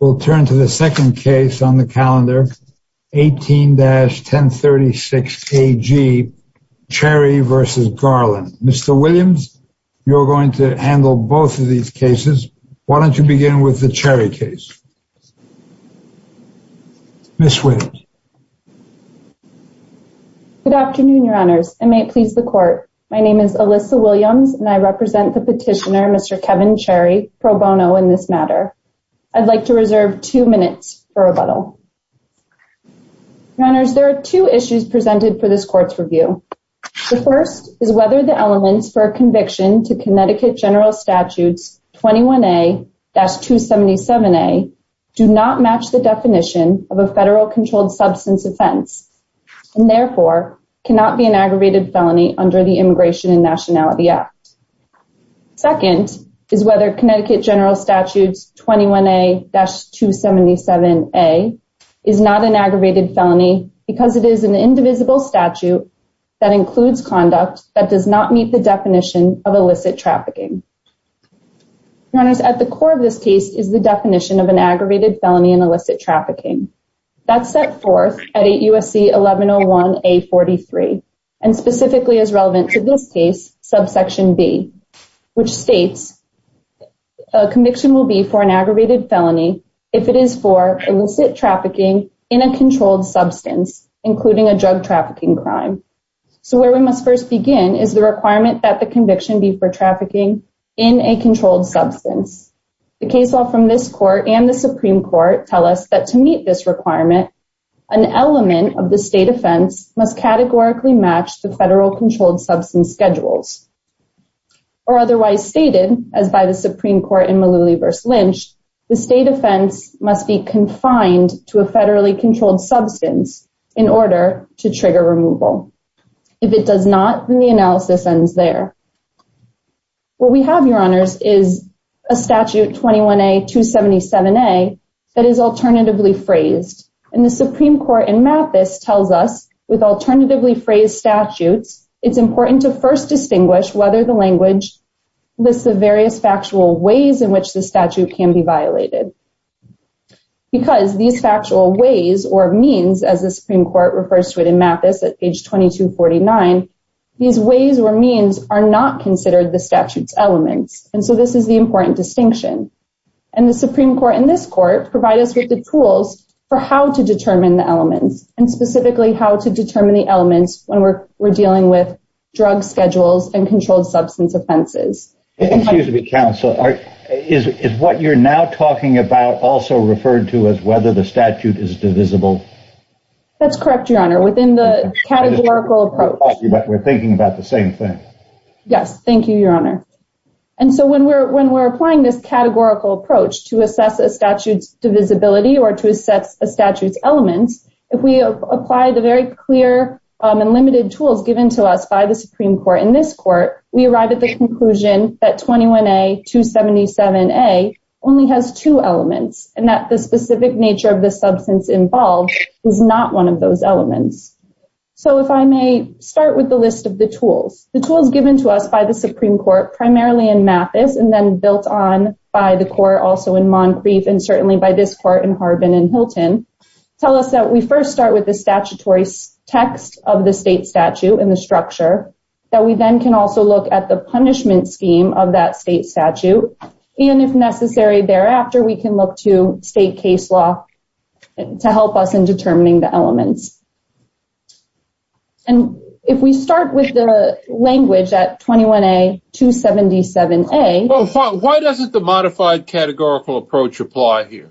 We'll turn to the second case on the calendar, 18-1036 KG, Cherry v. Garland. Mr. Williams, you're going to handle both of these cases. Why don't you begin with the Cherry case? Ms. Williams. Good afternoon, your honors. I may please the court. My name is Alyssa Williams, and I represent the petitioner, Mr. Kevin Cherry, pro bono in this matter. I'd like to reserve two minutes for rebuttal. Your honors, there are two issues presented for this court's review. The first is whether the elements for a conviction to Connecticut General Statute 21A-277A do not match the definition of a federal controlled substance offense, and therefore cannot be an aggravated felony under the Immigration and Nationality Act. Second is whether Connecticut General Statute 21A-277A is not an aggravated felony because it is an indivisible statute that includes conduct that does not meet the definition of illicit trafficking. Your honors, at the core of this case is the definition of an aggravated felony in illicit trafficking. That's set forth at 8 U.S.C. 1101A-43, and specifically is relevant to this case, subsection B, which states a conviction will be for an aggravated felony if it is for illicit trafficking in a controlled substance, including a drug trafficking crime. So where we must first begin is the requirement that the conviction be for trafficking in a controlled substance. The case law from this court and the Supreme Court tell us that to meet this requirement, an element of the state offense must categorically match the federal controlled substance schedules. Or otherwise stated, as by the Supreme Court in Malooly v. Lynch, the state offense must be confined to a federally controlled substance in order to trigger removal. If it does not, then the analysis ends there. What we have, your honors, is a statute, 21A-277A, that is alternatively phrased. And the Supreme Court in Mathis tells us with alternatively phrased statutes, it's important to first distinguish whether the language lists the various factual ways in which the statute can be violated. Because these factual ways or means, as the Supreme Court refers to it in Mathis at page 2249, these ways or means are not considered the statute's elements. And so this is the important distinction. And the Supreme Court in this court provide us with the tools for how to determine the elements, and specifically how to determine the elements when we're dealing with drug schedules and controlled substance offenses. Excuse me, counsel. Is what you're now talking about also referred to as whether the statute is divisible? That's correct, your honor, within the categorical approach. We're thinking about the same thing. Yes, thank you, your honor. And so when we're applying this categorical approach to assess a statute's divisibility or to assess a statute's elements, if we apply the very clear and limited tools given to us by the Supreme Court in this court, we arrive at the conclusion that 21A-277A only has two elements, and that the specific nature of the substance involved is not one of those elements. So if I may start with the list of the tools. The tools given to us by the Supreme Court, primarily in Mathis, and then built on by the court also in Moncrief, and certainly by this court in Harbin and Hilton, tell us that we first start with the statutory text of the state statute and the structure, that we then can also look at the punishment scheme of that state statute, and if necessary thereafter, we can look to state case law to help us in determining the elements. And if we start with the language at 21A-277A... Why doesn't the modified categorical approach apply here?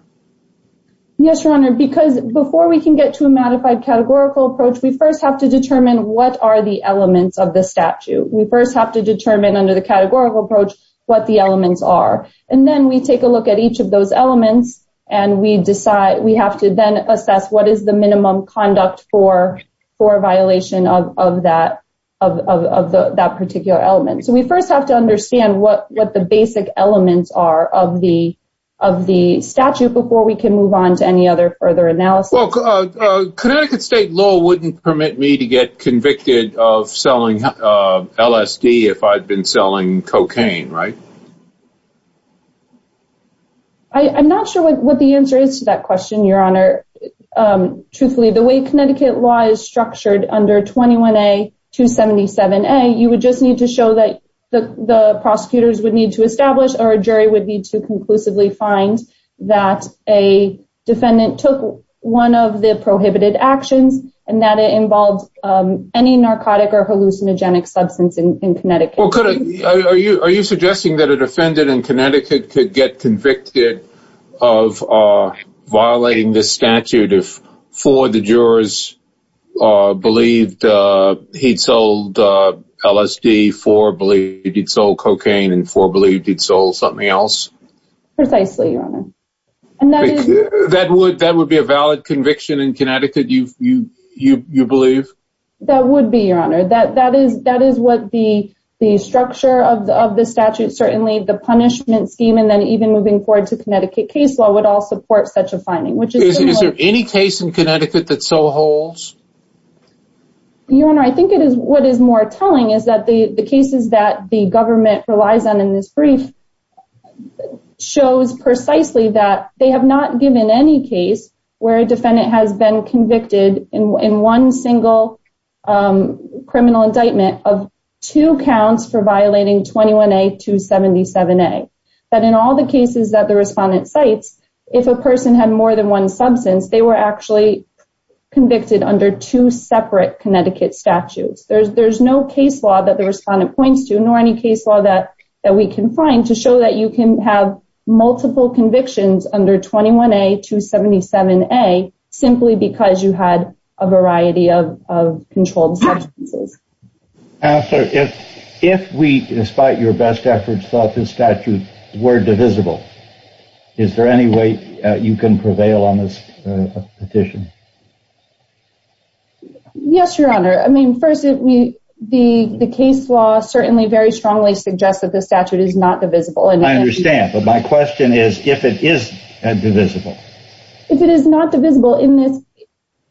Yes, your honor, because before we can get to a modified categorical approach, we first have to determine what are the elements of the statute. We first have to determine under the categorical approach what the elements are. And then we take a look at each of those elements, and we have to then assess what is the minimum conduct for a violation of that particular element. So we first have to understand what the basic elements are of the statute, before we can move on to any other further analysis. Well, Connecticut state law wouldn't permit me to get convicted of selling LSD if I'd been selling cocaine, right? I'm not sure what the answer is to that question, your honor. Truthfully, the way Connecticut law is structured under 21A-277A, you would just need to show that the prosecutors would need to establish, or a jury would need to conclusively find that a defendant took one of the prohibited actions, and that it involved any narcotic or hallucinogenic substance in Connecticut. Are you suggesting that a defendant in Connecticut could get convicted of violating this statute if four of the jurors believed he'd sold LSD, four believed he'd sold cocaine, and four believed he'd sold something else? Precisely, your honor. That would be a valid conviction in Connecticut, you believe? That would be, your honor. That is what the structure of the statute, certainly the punishment scheme, and then even moving forward to Connecticut case law would all support such a finding. Is there any case in Connecticut that so holds? Your honor, I think what is more telling is that the cases that the government relies on in this brief shows precisely that they have not given any case where a defendant has been convicted in one single criminal indictment of two counts for violating 21A-277A. That in all the cases that the respondent cites, if a person had more than one substance, they were actually convicted under two separate Connecticut statutes. There's no case law that the respondent points to, nor any case law that we can find, to show that you can have multiple convictions under 21A-277A simply because you had a variety of controlled substances. Counselor, if we, despite your best efforts, thought this statute were divisible, is there any way you can prevail on this petition? Yes, your honor. I mean, first, the case law certainly very strongly suggests that the statute is not divisible. I understand, but my question is if it is divisible. If it is not divisible in this case?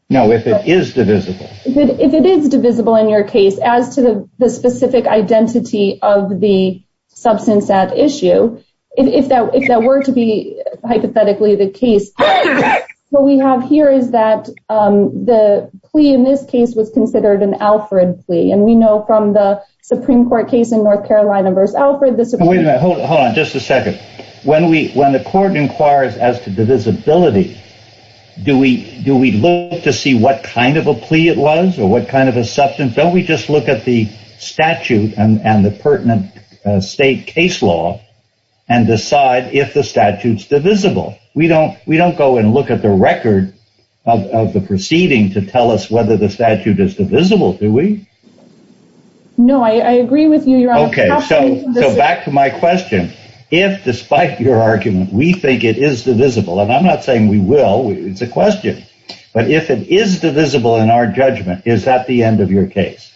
No, if it is divisible. If it is divisible in your case as to the specific identity of the substance at issue, if that were to be hypothetically the case, what we have here is that the plea in this case was considered an Alfred plea. And we know from the Supreme Court case in North Carolina v. Alfred, the Supreme Court... When the court inquires as to divisibility, do we look to see what kind of a plea it was or what kind of a substance? Don't we just look at the statute and the pertinent state case law and decide if the statute is divisible? We don't go and look at the record of the proceeding to tell us whether the statute is divisible, do we? Okay, so back to my question. If, despite your argument, we think it is divisible, and I'm not saying we will, it's a question, but if it is divisible in our judgment, is that the end of your case?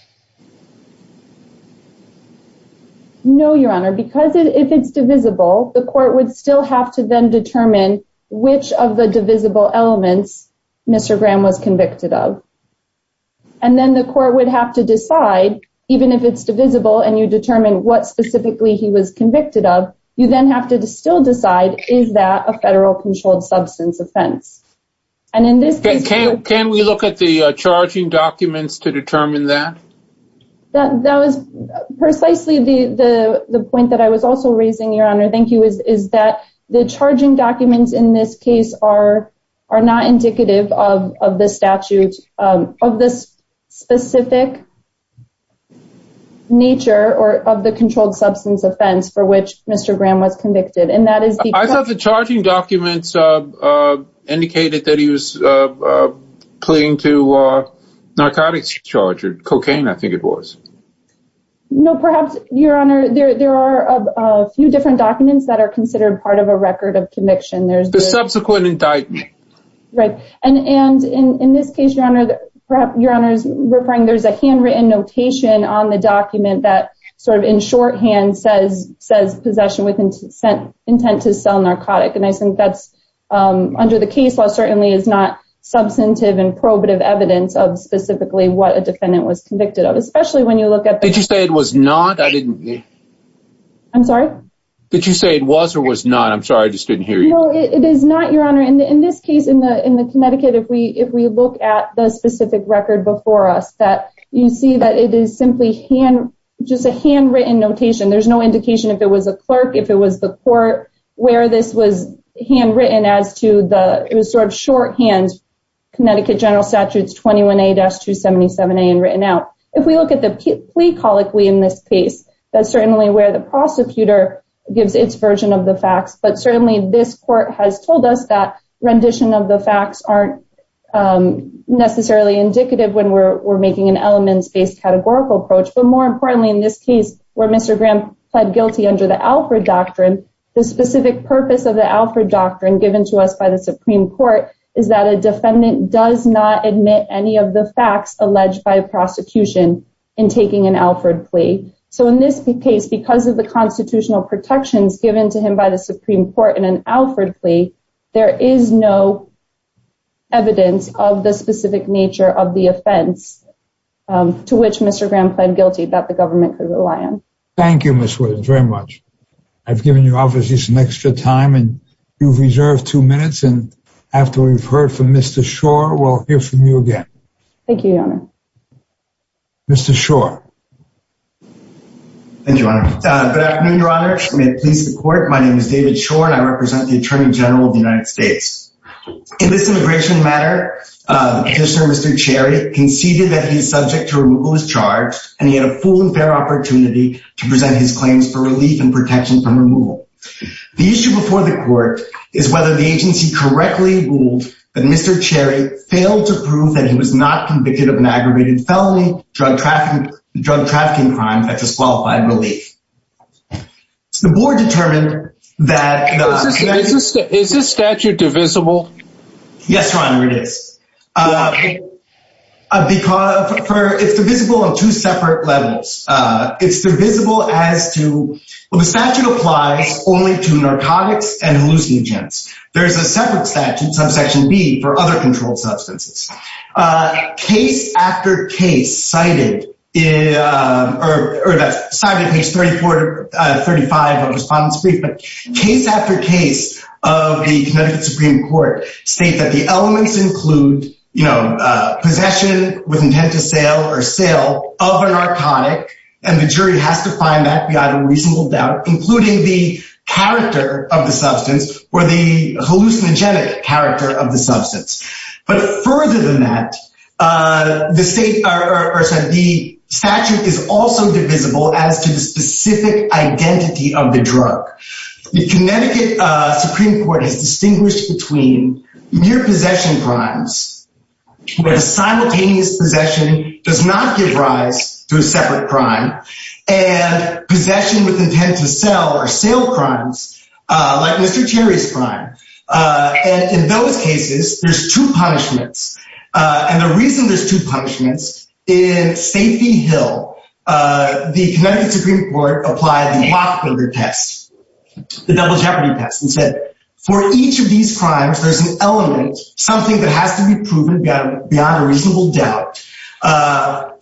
No, your honor, because if it's divisible, the court would still have to then determine which of the divisible elements Mr. Graham was convicted of. And then the court would have to decide, even if it's divisible, and you determine what specifically he was convicted of, you then have to still decide, is that a federal controlled substance offense? And in this case... Can we look at the charging documents to determine that? That was precisely the point that I was also raising, your honor, thank you, is that the charging documents in this case are not indicative of the statute, of the specific nature of the controlled substance offense for which Mr. Graham was convicted. I thought the charging documents indicated that he was clinging to narcotics charges, cocaine I think it was. No, perhaps, your honor, there are a few different documents that are considered part of a record of conviction. The subsequent indictment. Right, and in this case, your honor, there's a handwritten notation on the document that sort of in shorthand says possession with intent to sell narcotic, and I think that's under the case law certainly is not substantive and probative evidence of specifically what a defendant was convicted of, especially when you look at... Did you say it was not? I'm sorry? Did you say it was or was not? I'm sorry, I just didn't hear you. No, it is not, your honor. In this case, in Connecticut, if we look at the specific record before us, you see that it is simply just a handwritten notation. There's no indication if it was a clerk, if it was the court, where this was handwritten as to the... It was sort of shorthand, Connecticut General Statutes 21A-277A and written out. If we look at the plea colloquy in this case, that's certainly where the prosecutor gives its version of the facts, but certainly this court has told us that rendition of the facts aren't necessarily indicative when we're making an elements-based categorical approach, but more importantly in this case where Mr. Graham pled guilty under the Alfred Doctrine, the specific purpose of the Alfred Doctrine given to us by the Supreme Court is that a defendant does not admit any of the facts alleged by prosecution in taking an Alfred plea. So in this case, because of the constitutional protections given to him by the Supreme Court in an Alfred plea, there is no evidence of the specific nature of the offense to which Mr. Graham pled guilty that the government could rely on. Thank you, Ms. Williams, very much. I've given you obviously some extra time and you've reserved two minutes and after we've heard from Mr. Schor, we'll hear from you again. Thank you, Your Honor. Mr. Schor. Thank you, Your Honor. Good afternoon, Your Honor. May it please the court, my name is David Schor and I represent the Attorney General of the United States. In this immigration matter, Commissioner Mr. Cherry conceded that he is subject to removal as charged and he had a full and fair opportunity to present his claims for relief and protection from removal. The issue before the court is whether the agency correctly ruled that Mr. Cherry failed to prove that he was not convicted of an aggravated felony drug trafficking crime and disqualified relief. The board determined that... Is this statute divisible? Yes, Your Honor, it is. Okay. It's divisible on two separate levels. It's divisible as to... Well, the statute applies only to narcotics and hallucinogens. There's a separate statute, subsection B, for other controlled substances. Case after case cited in... Or that's cited in page 34 to 35 of the respondent's brief, but case after case of the Connecticut Supreme Court state that the elements include, you know, and the jury has to find that beyond a reasonable doubt, including the character of the substance or the hallucinogenic character of the substance. But further than that, the statute is also divisible as to the specific identity of the drug. The Connecticut Supreme Court has distinguished between mere possession crimes, where simultaneous possession does not give rise to a separate crime, and possession with intent to sell or sale crimes, like Mr. Cherry's crime. And in those cases, there's two punishments. And the reason there's two punishments, in Safety Hill, the Connecticut Supreme Court applied the Lockberger test, the double jeopardy test, and said, for each of these crimes, there's an element, something that has to be proven beyond a reasonable doubt,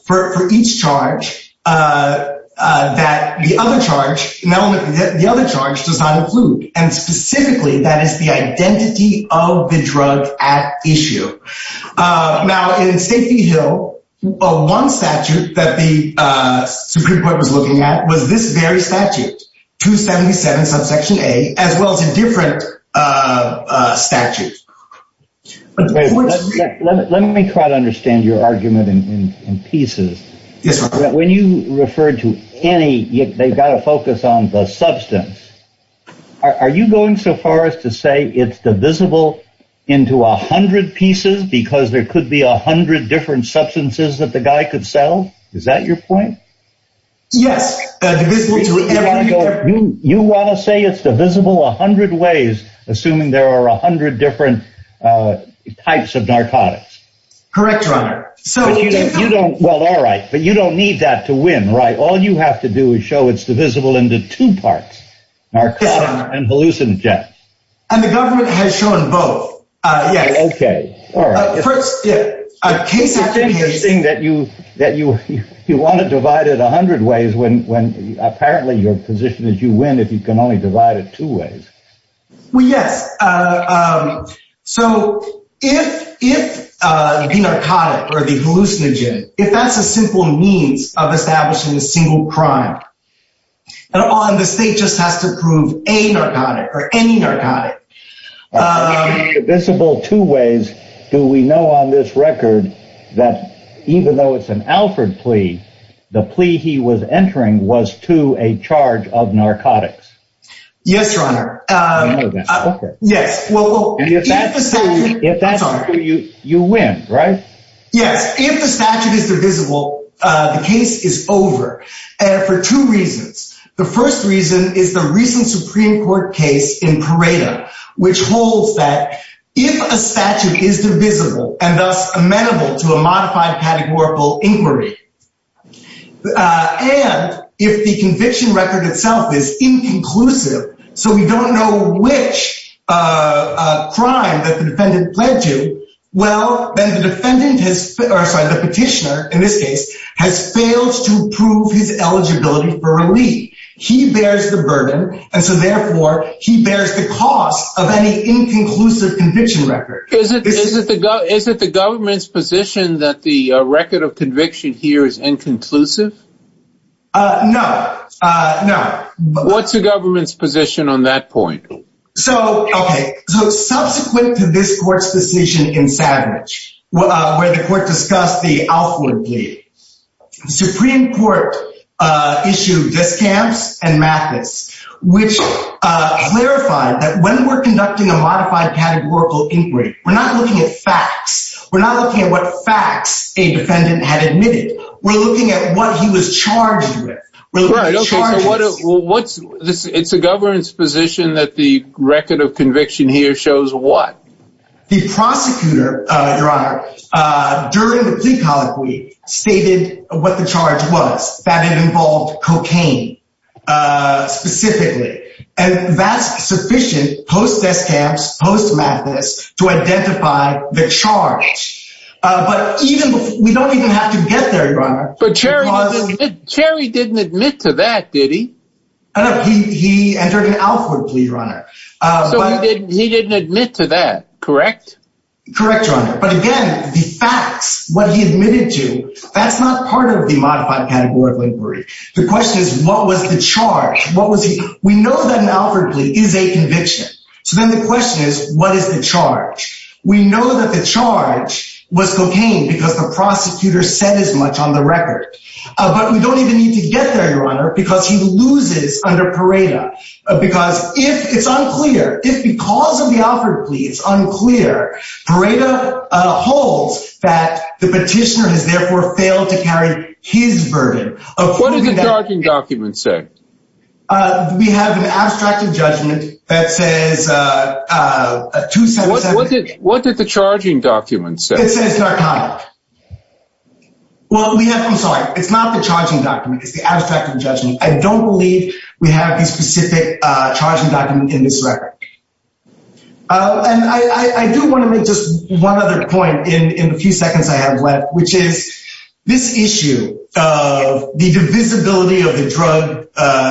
for each charge, that the other charge does not include. And specifically, that is the identity of the drug at issue. Now, in Safety Hill, one statute that the Supreme Court was looking at was this very statute, 277 subsection A, as well as in different statutes. Let me try to understand your argument in pieces. When you refer to any, they've got to focus on the substance. Are you going so far as to say it's divisible into 100 pieces, because there could be 100 different substances that the guy could sell? Is that your point? Yes. You want to say it's divisible 100 ways, assuming there are 100 different types of narcotics? Correct, Your Honor. Well, all right, but you don't need that to win, right? All you have to do is show it's divisible into two parts, narcotics and hallucinogenic. And the government has shown both, yes. Okay, all right. The thing is that you want to divide it 100 ways when apparently your position is you win if you can only divide it two ways. Well, yes. So if the narcotic or the hallucinogenic, if that's a simple means of establishing a single crime, and the state just has to prove a narcotic or any narcotic. If it's divisible two ways, do we know on this record that even though it's an Alford plea, the plea he was entering was to a charge of narcotics? Yes, Your Honor. Okay. Yes. If that's true, you win, right? Yes. If the statute is divisible, the case is over for two reasons. The first reason is the recent Supreme Court case in Pareto, which holds that if a statute is divisible and thus amenable to a modified categorical inquiry, and if the conviction record itself is inconclusive, so we don't know which crime that the defendant pled to, well, then the petitioner, in this case, has failed to prove his eligibility for relief. He bears the burden, and so therefore he bears the cost of any inconclusive conviction record. Is it the government's position that the record of conviction here is inconclusive? No. What's the government's position on that point? Okay. Subsequent to this court's decision in Savage, where the court discussed the Alford plea, the Supreme Court issued discounts and methods, which clarified that when we're conducting a modified categorical inquiry, we're not looking at facts. We're not looking at what facts a defendant had admitted. We're looking at what he was charged with. It's the government's position that the record of conviction here shows what? The prosecutor, Your Honor, during the plea colloquy, stated what the charge was. That it involved cocaine, specifically. And that's sufficient post desk camps, post madness, to identify the charge. But we don't even have to get there, Your Honor. But Cherry didn't admit to that, did he? He entered an Alford plea, Your Honor. So he didn't admit to that, correct? Correct, Your Honor. But again, the facts, what he admitted to, that's not part of the modified categorical inquiry. The question is, what was the charge? We know that an Alford plea is a conviction. So then the question is, what is the charge? We know that the charge was cocaine because the prosecutor said as much on the record. But we don't even need to get there, Your Honor, because he loses under Pareda. Because if it's unclear, if because of the Alford plea it's unclear, Pareda holds that the petitioner has therefore failed to carry his burden. What does the charging document say? We have an abstracted judgment that says 277. What did the charging document say? It says narcotic. I'm sorry. It's not the charging document. It's the abstracted judgment. I don't believe we have a specific charging document in this record. And I do want to make just one other point in the few seconds I have left, which is this issue of the divisibility of the drug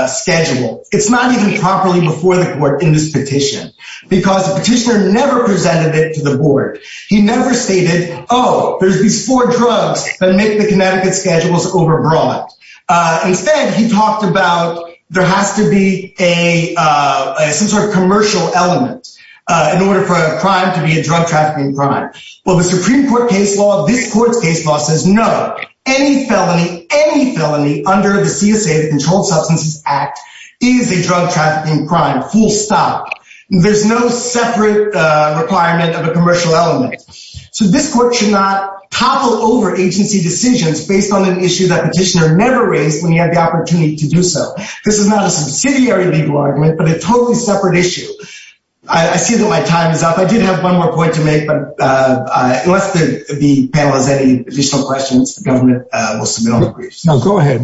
schedule, it's not even properly before the court in this petition because the petitioner never presented it to the board. He never stated, oh, there's these four drugs that make the Connecticut schedules overbroad. Instead, he talked about there has to be some sort of commercial element in order for a crime to be a drug trafficking crime. Well, the Supreme Court case law, this court's case law says no. Any felony, any felony under the CSA, the Controlled Substances Act, is a drug trafficking crime, full stop. There's no separate requirement of a commercial element. So this court should not topple over agency decisions based on an issue that petitioner never raised when he had the opportunity to do so. This is not a subsidiary legal argument, but a totally separate issue. I see that my time is up. I did have one more point to make, but unless the panel has any additional questions, the government will submit all the briefs. No, go ahead.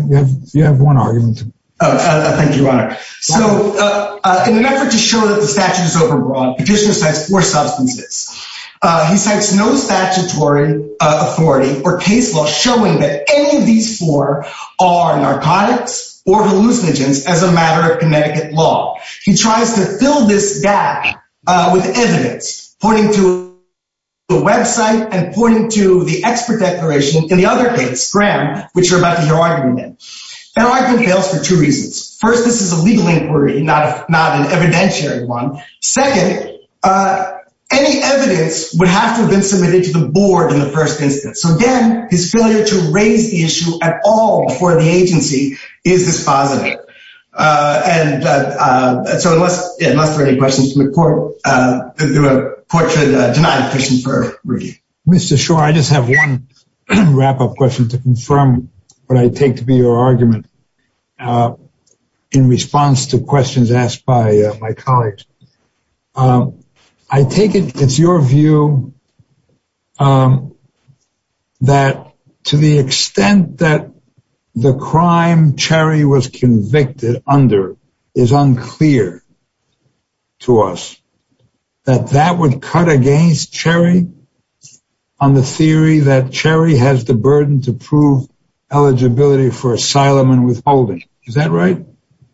You have one argument. Thank you, Your Honor. So in an effort to show that the statute is overbroad, petitioner cites four substances. He cites no statutory authority or case law showing that any of these four are narcotics or hallucinogens as a matter of Connecticut law. He tries to fill this gap with evidence, pointing to the website and pointing to the expert declaration in the other case, Graham, which you're about to hear argument in. That argument fails for two reasons. First, this is a legal inquiry, not an evidentiary one. Second, any evidence would have to have been submitted to the board in the first instance. So, again, his failure to raise the issue at all before the agency is dispositive. And so unless there are any questions from the court, the court should deny the petition for review. Mr. Schor, I just have one wrap-up question to confirm what I take to be your argument in response to questions asked by my colleagues. I take it it's your view that to the extent that the crime Cherry was convicted under is unclear to us, that that would cut against Cherry on the theory that Cherry has the burden to prove eligibility for asylum and withholding. Is that right?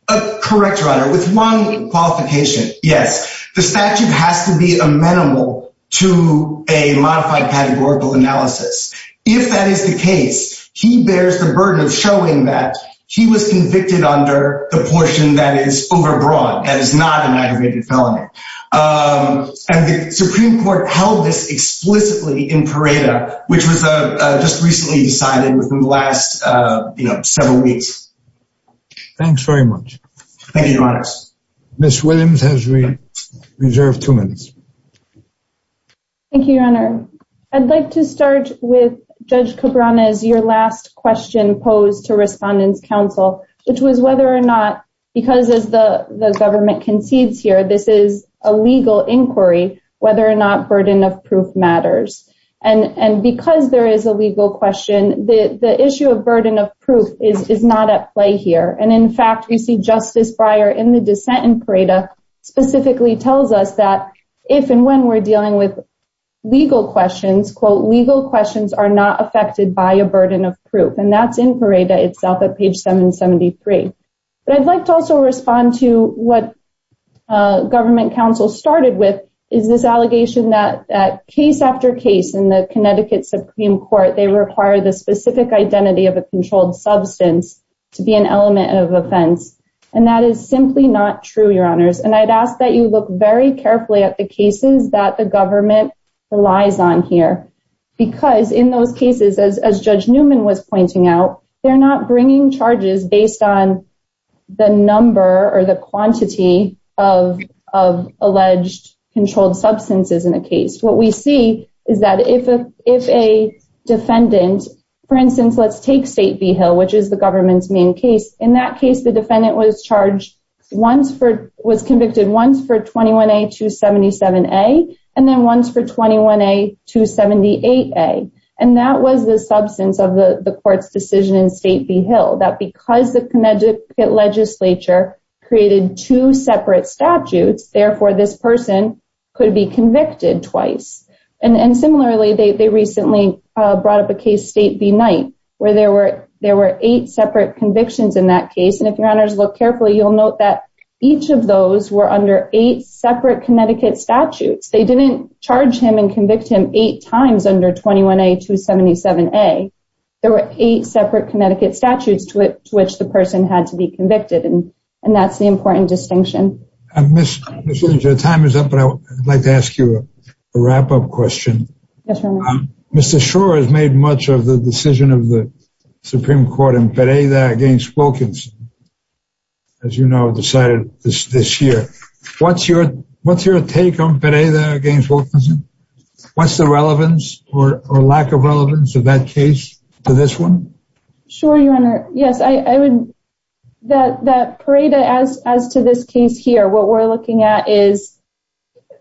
Correct, Your Honor. With one qualification, yes. The statute has to be amenable to a modified categorical analysis. If that is the case, he bears the burden of showing that he was convicted under the portion that is overbroad, that is not an aggravated felony. And the Supreme Court held this explicitly in Pareto, which was just recently decided within the last several weeks. Thanks very much. Thank you, Your Honor. Ms. Williams has reserved two minutes. Thank you, Your Honor. I'd like to start with Judge Cabrera's last question posed to Respondents' Council, which was whether or not, because as the government concedes here, this is a legal inquiry, whether or not burden of proof matters. And because there is a legal question, the issue of burden of proof is not at play here. And in fact, we see Justice Breyer in the dissent in Pareto specifically tells us that if and when we're dealing with legal questions, quote, legal questions are not affected by a burden of proof. And that's in Pareto itself at page 773. But I'd like to also respond to what government counsel started with, is this allegation that case after case in the Connecticut Supreme Court, they require the specific identity of a controlled substance to be an element of offense. And that is simply not true, Your Honors. And I'd ask that you look very carefully at the cases that the government relies on here. Because in those cases, as Judge Newman was pointing out, they're not bringing charges based on the number or the quantity of alleged controlled substances in a case. What we see is that if a defendant, for instance, let's take State v. Hill, which is the government's main case. In that case, the defendant was convicted once for 21A-277A, and then once for 21A-278A. And that was the substance of the court's decision in State v. Hill, that because the Connecticut legislature created two separate statutes, therefore this person could be convicted twice. And similarly, they recently brought up a case, State v. Knight, where there were eight separate convictions in that case. And if Your Honors look carefully, you'll note that each of those were under eight separate Connecticut statutes. They didn't charge him and convict him eight times under 21A-277A. There were eight separate Connecticut statutes to which the person had to be convicted, and that's the important distinction. Ms. Lynch, your time is up, but I'd like to ask you a wrap-up question. Yes, Your Honor. Mr. Schor has made much of the decision of the Supreme Court in Pereira v. Wilkinson, as you know, decided this year. What's your take on Pereira v. Wilkinson? What's the relevance or lack of relevance of that case to this one? Sure, Your Honor. Yes, I would—that Pereira, as to this case here, what we're looking at is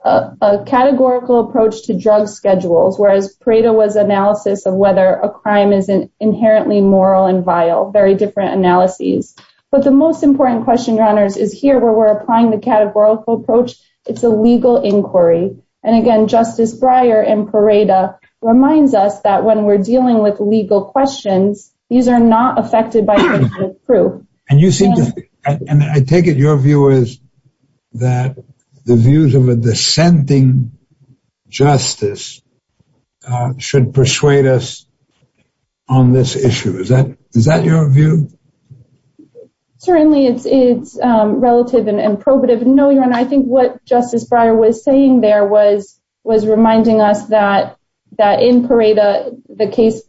a categorical approach to drug schedules, whereas Pereira was analysis of whether a crime is inherently moral and vile, very different analyses. But the most important question, Your Honors, is here where we're applying the categorical approach. It's a legal inquiry. And, again, Justice Breyer in Pereira reminds us that when we're dealing with legal questions, these are not affected by evidence of proof. And you seem to—and I take it your view is that the views of a dissenting justice should persuade us on this issue. Is that your view? Certainly, it's relative and probative. No, Your Honor, I think what Justice Breyer was saying there was reminding us that in Pereira the case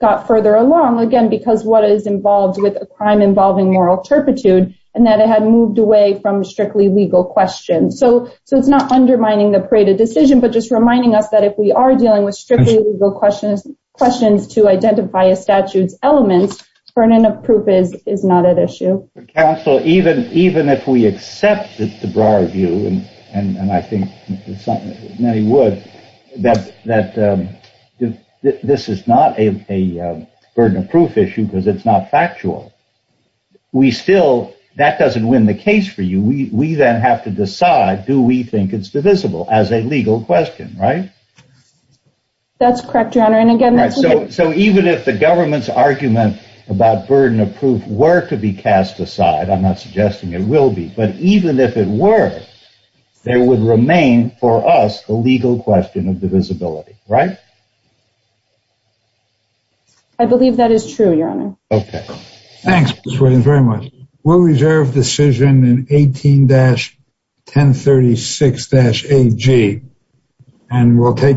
got further along, again, because what is involved with a crime involving moral turpitude, and that it had moved away from strictly legal questions. So it's not undermining the Pereira decision, but just reminding us that if we are dealing with strictly legal questions to identify a statute's elements, burden of proof is not at issue. Counsel, even if we accept the Breyer view, and I think many would, that this is not a burden of proof issue because it's not factual, we still—that doesn't win the case for you. We then have to decide do we think it's divisible as a legal question, right? That's correct, Your Honor. So even if the government's argument about burden of proof were to be cast aside, I'm not suggesting it will be, but even if it were, there would remain for us the legal question of divisibility, right? I believe that is true, Your Honor. Okay. Thanks, Ms. Williams, very much. We'll reserve decision in 18-1036-AG, and we'll take—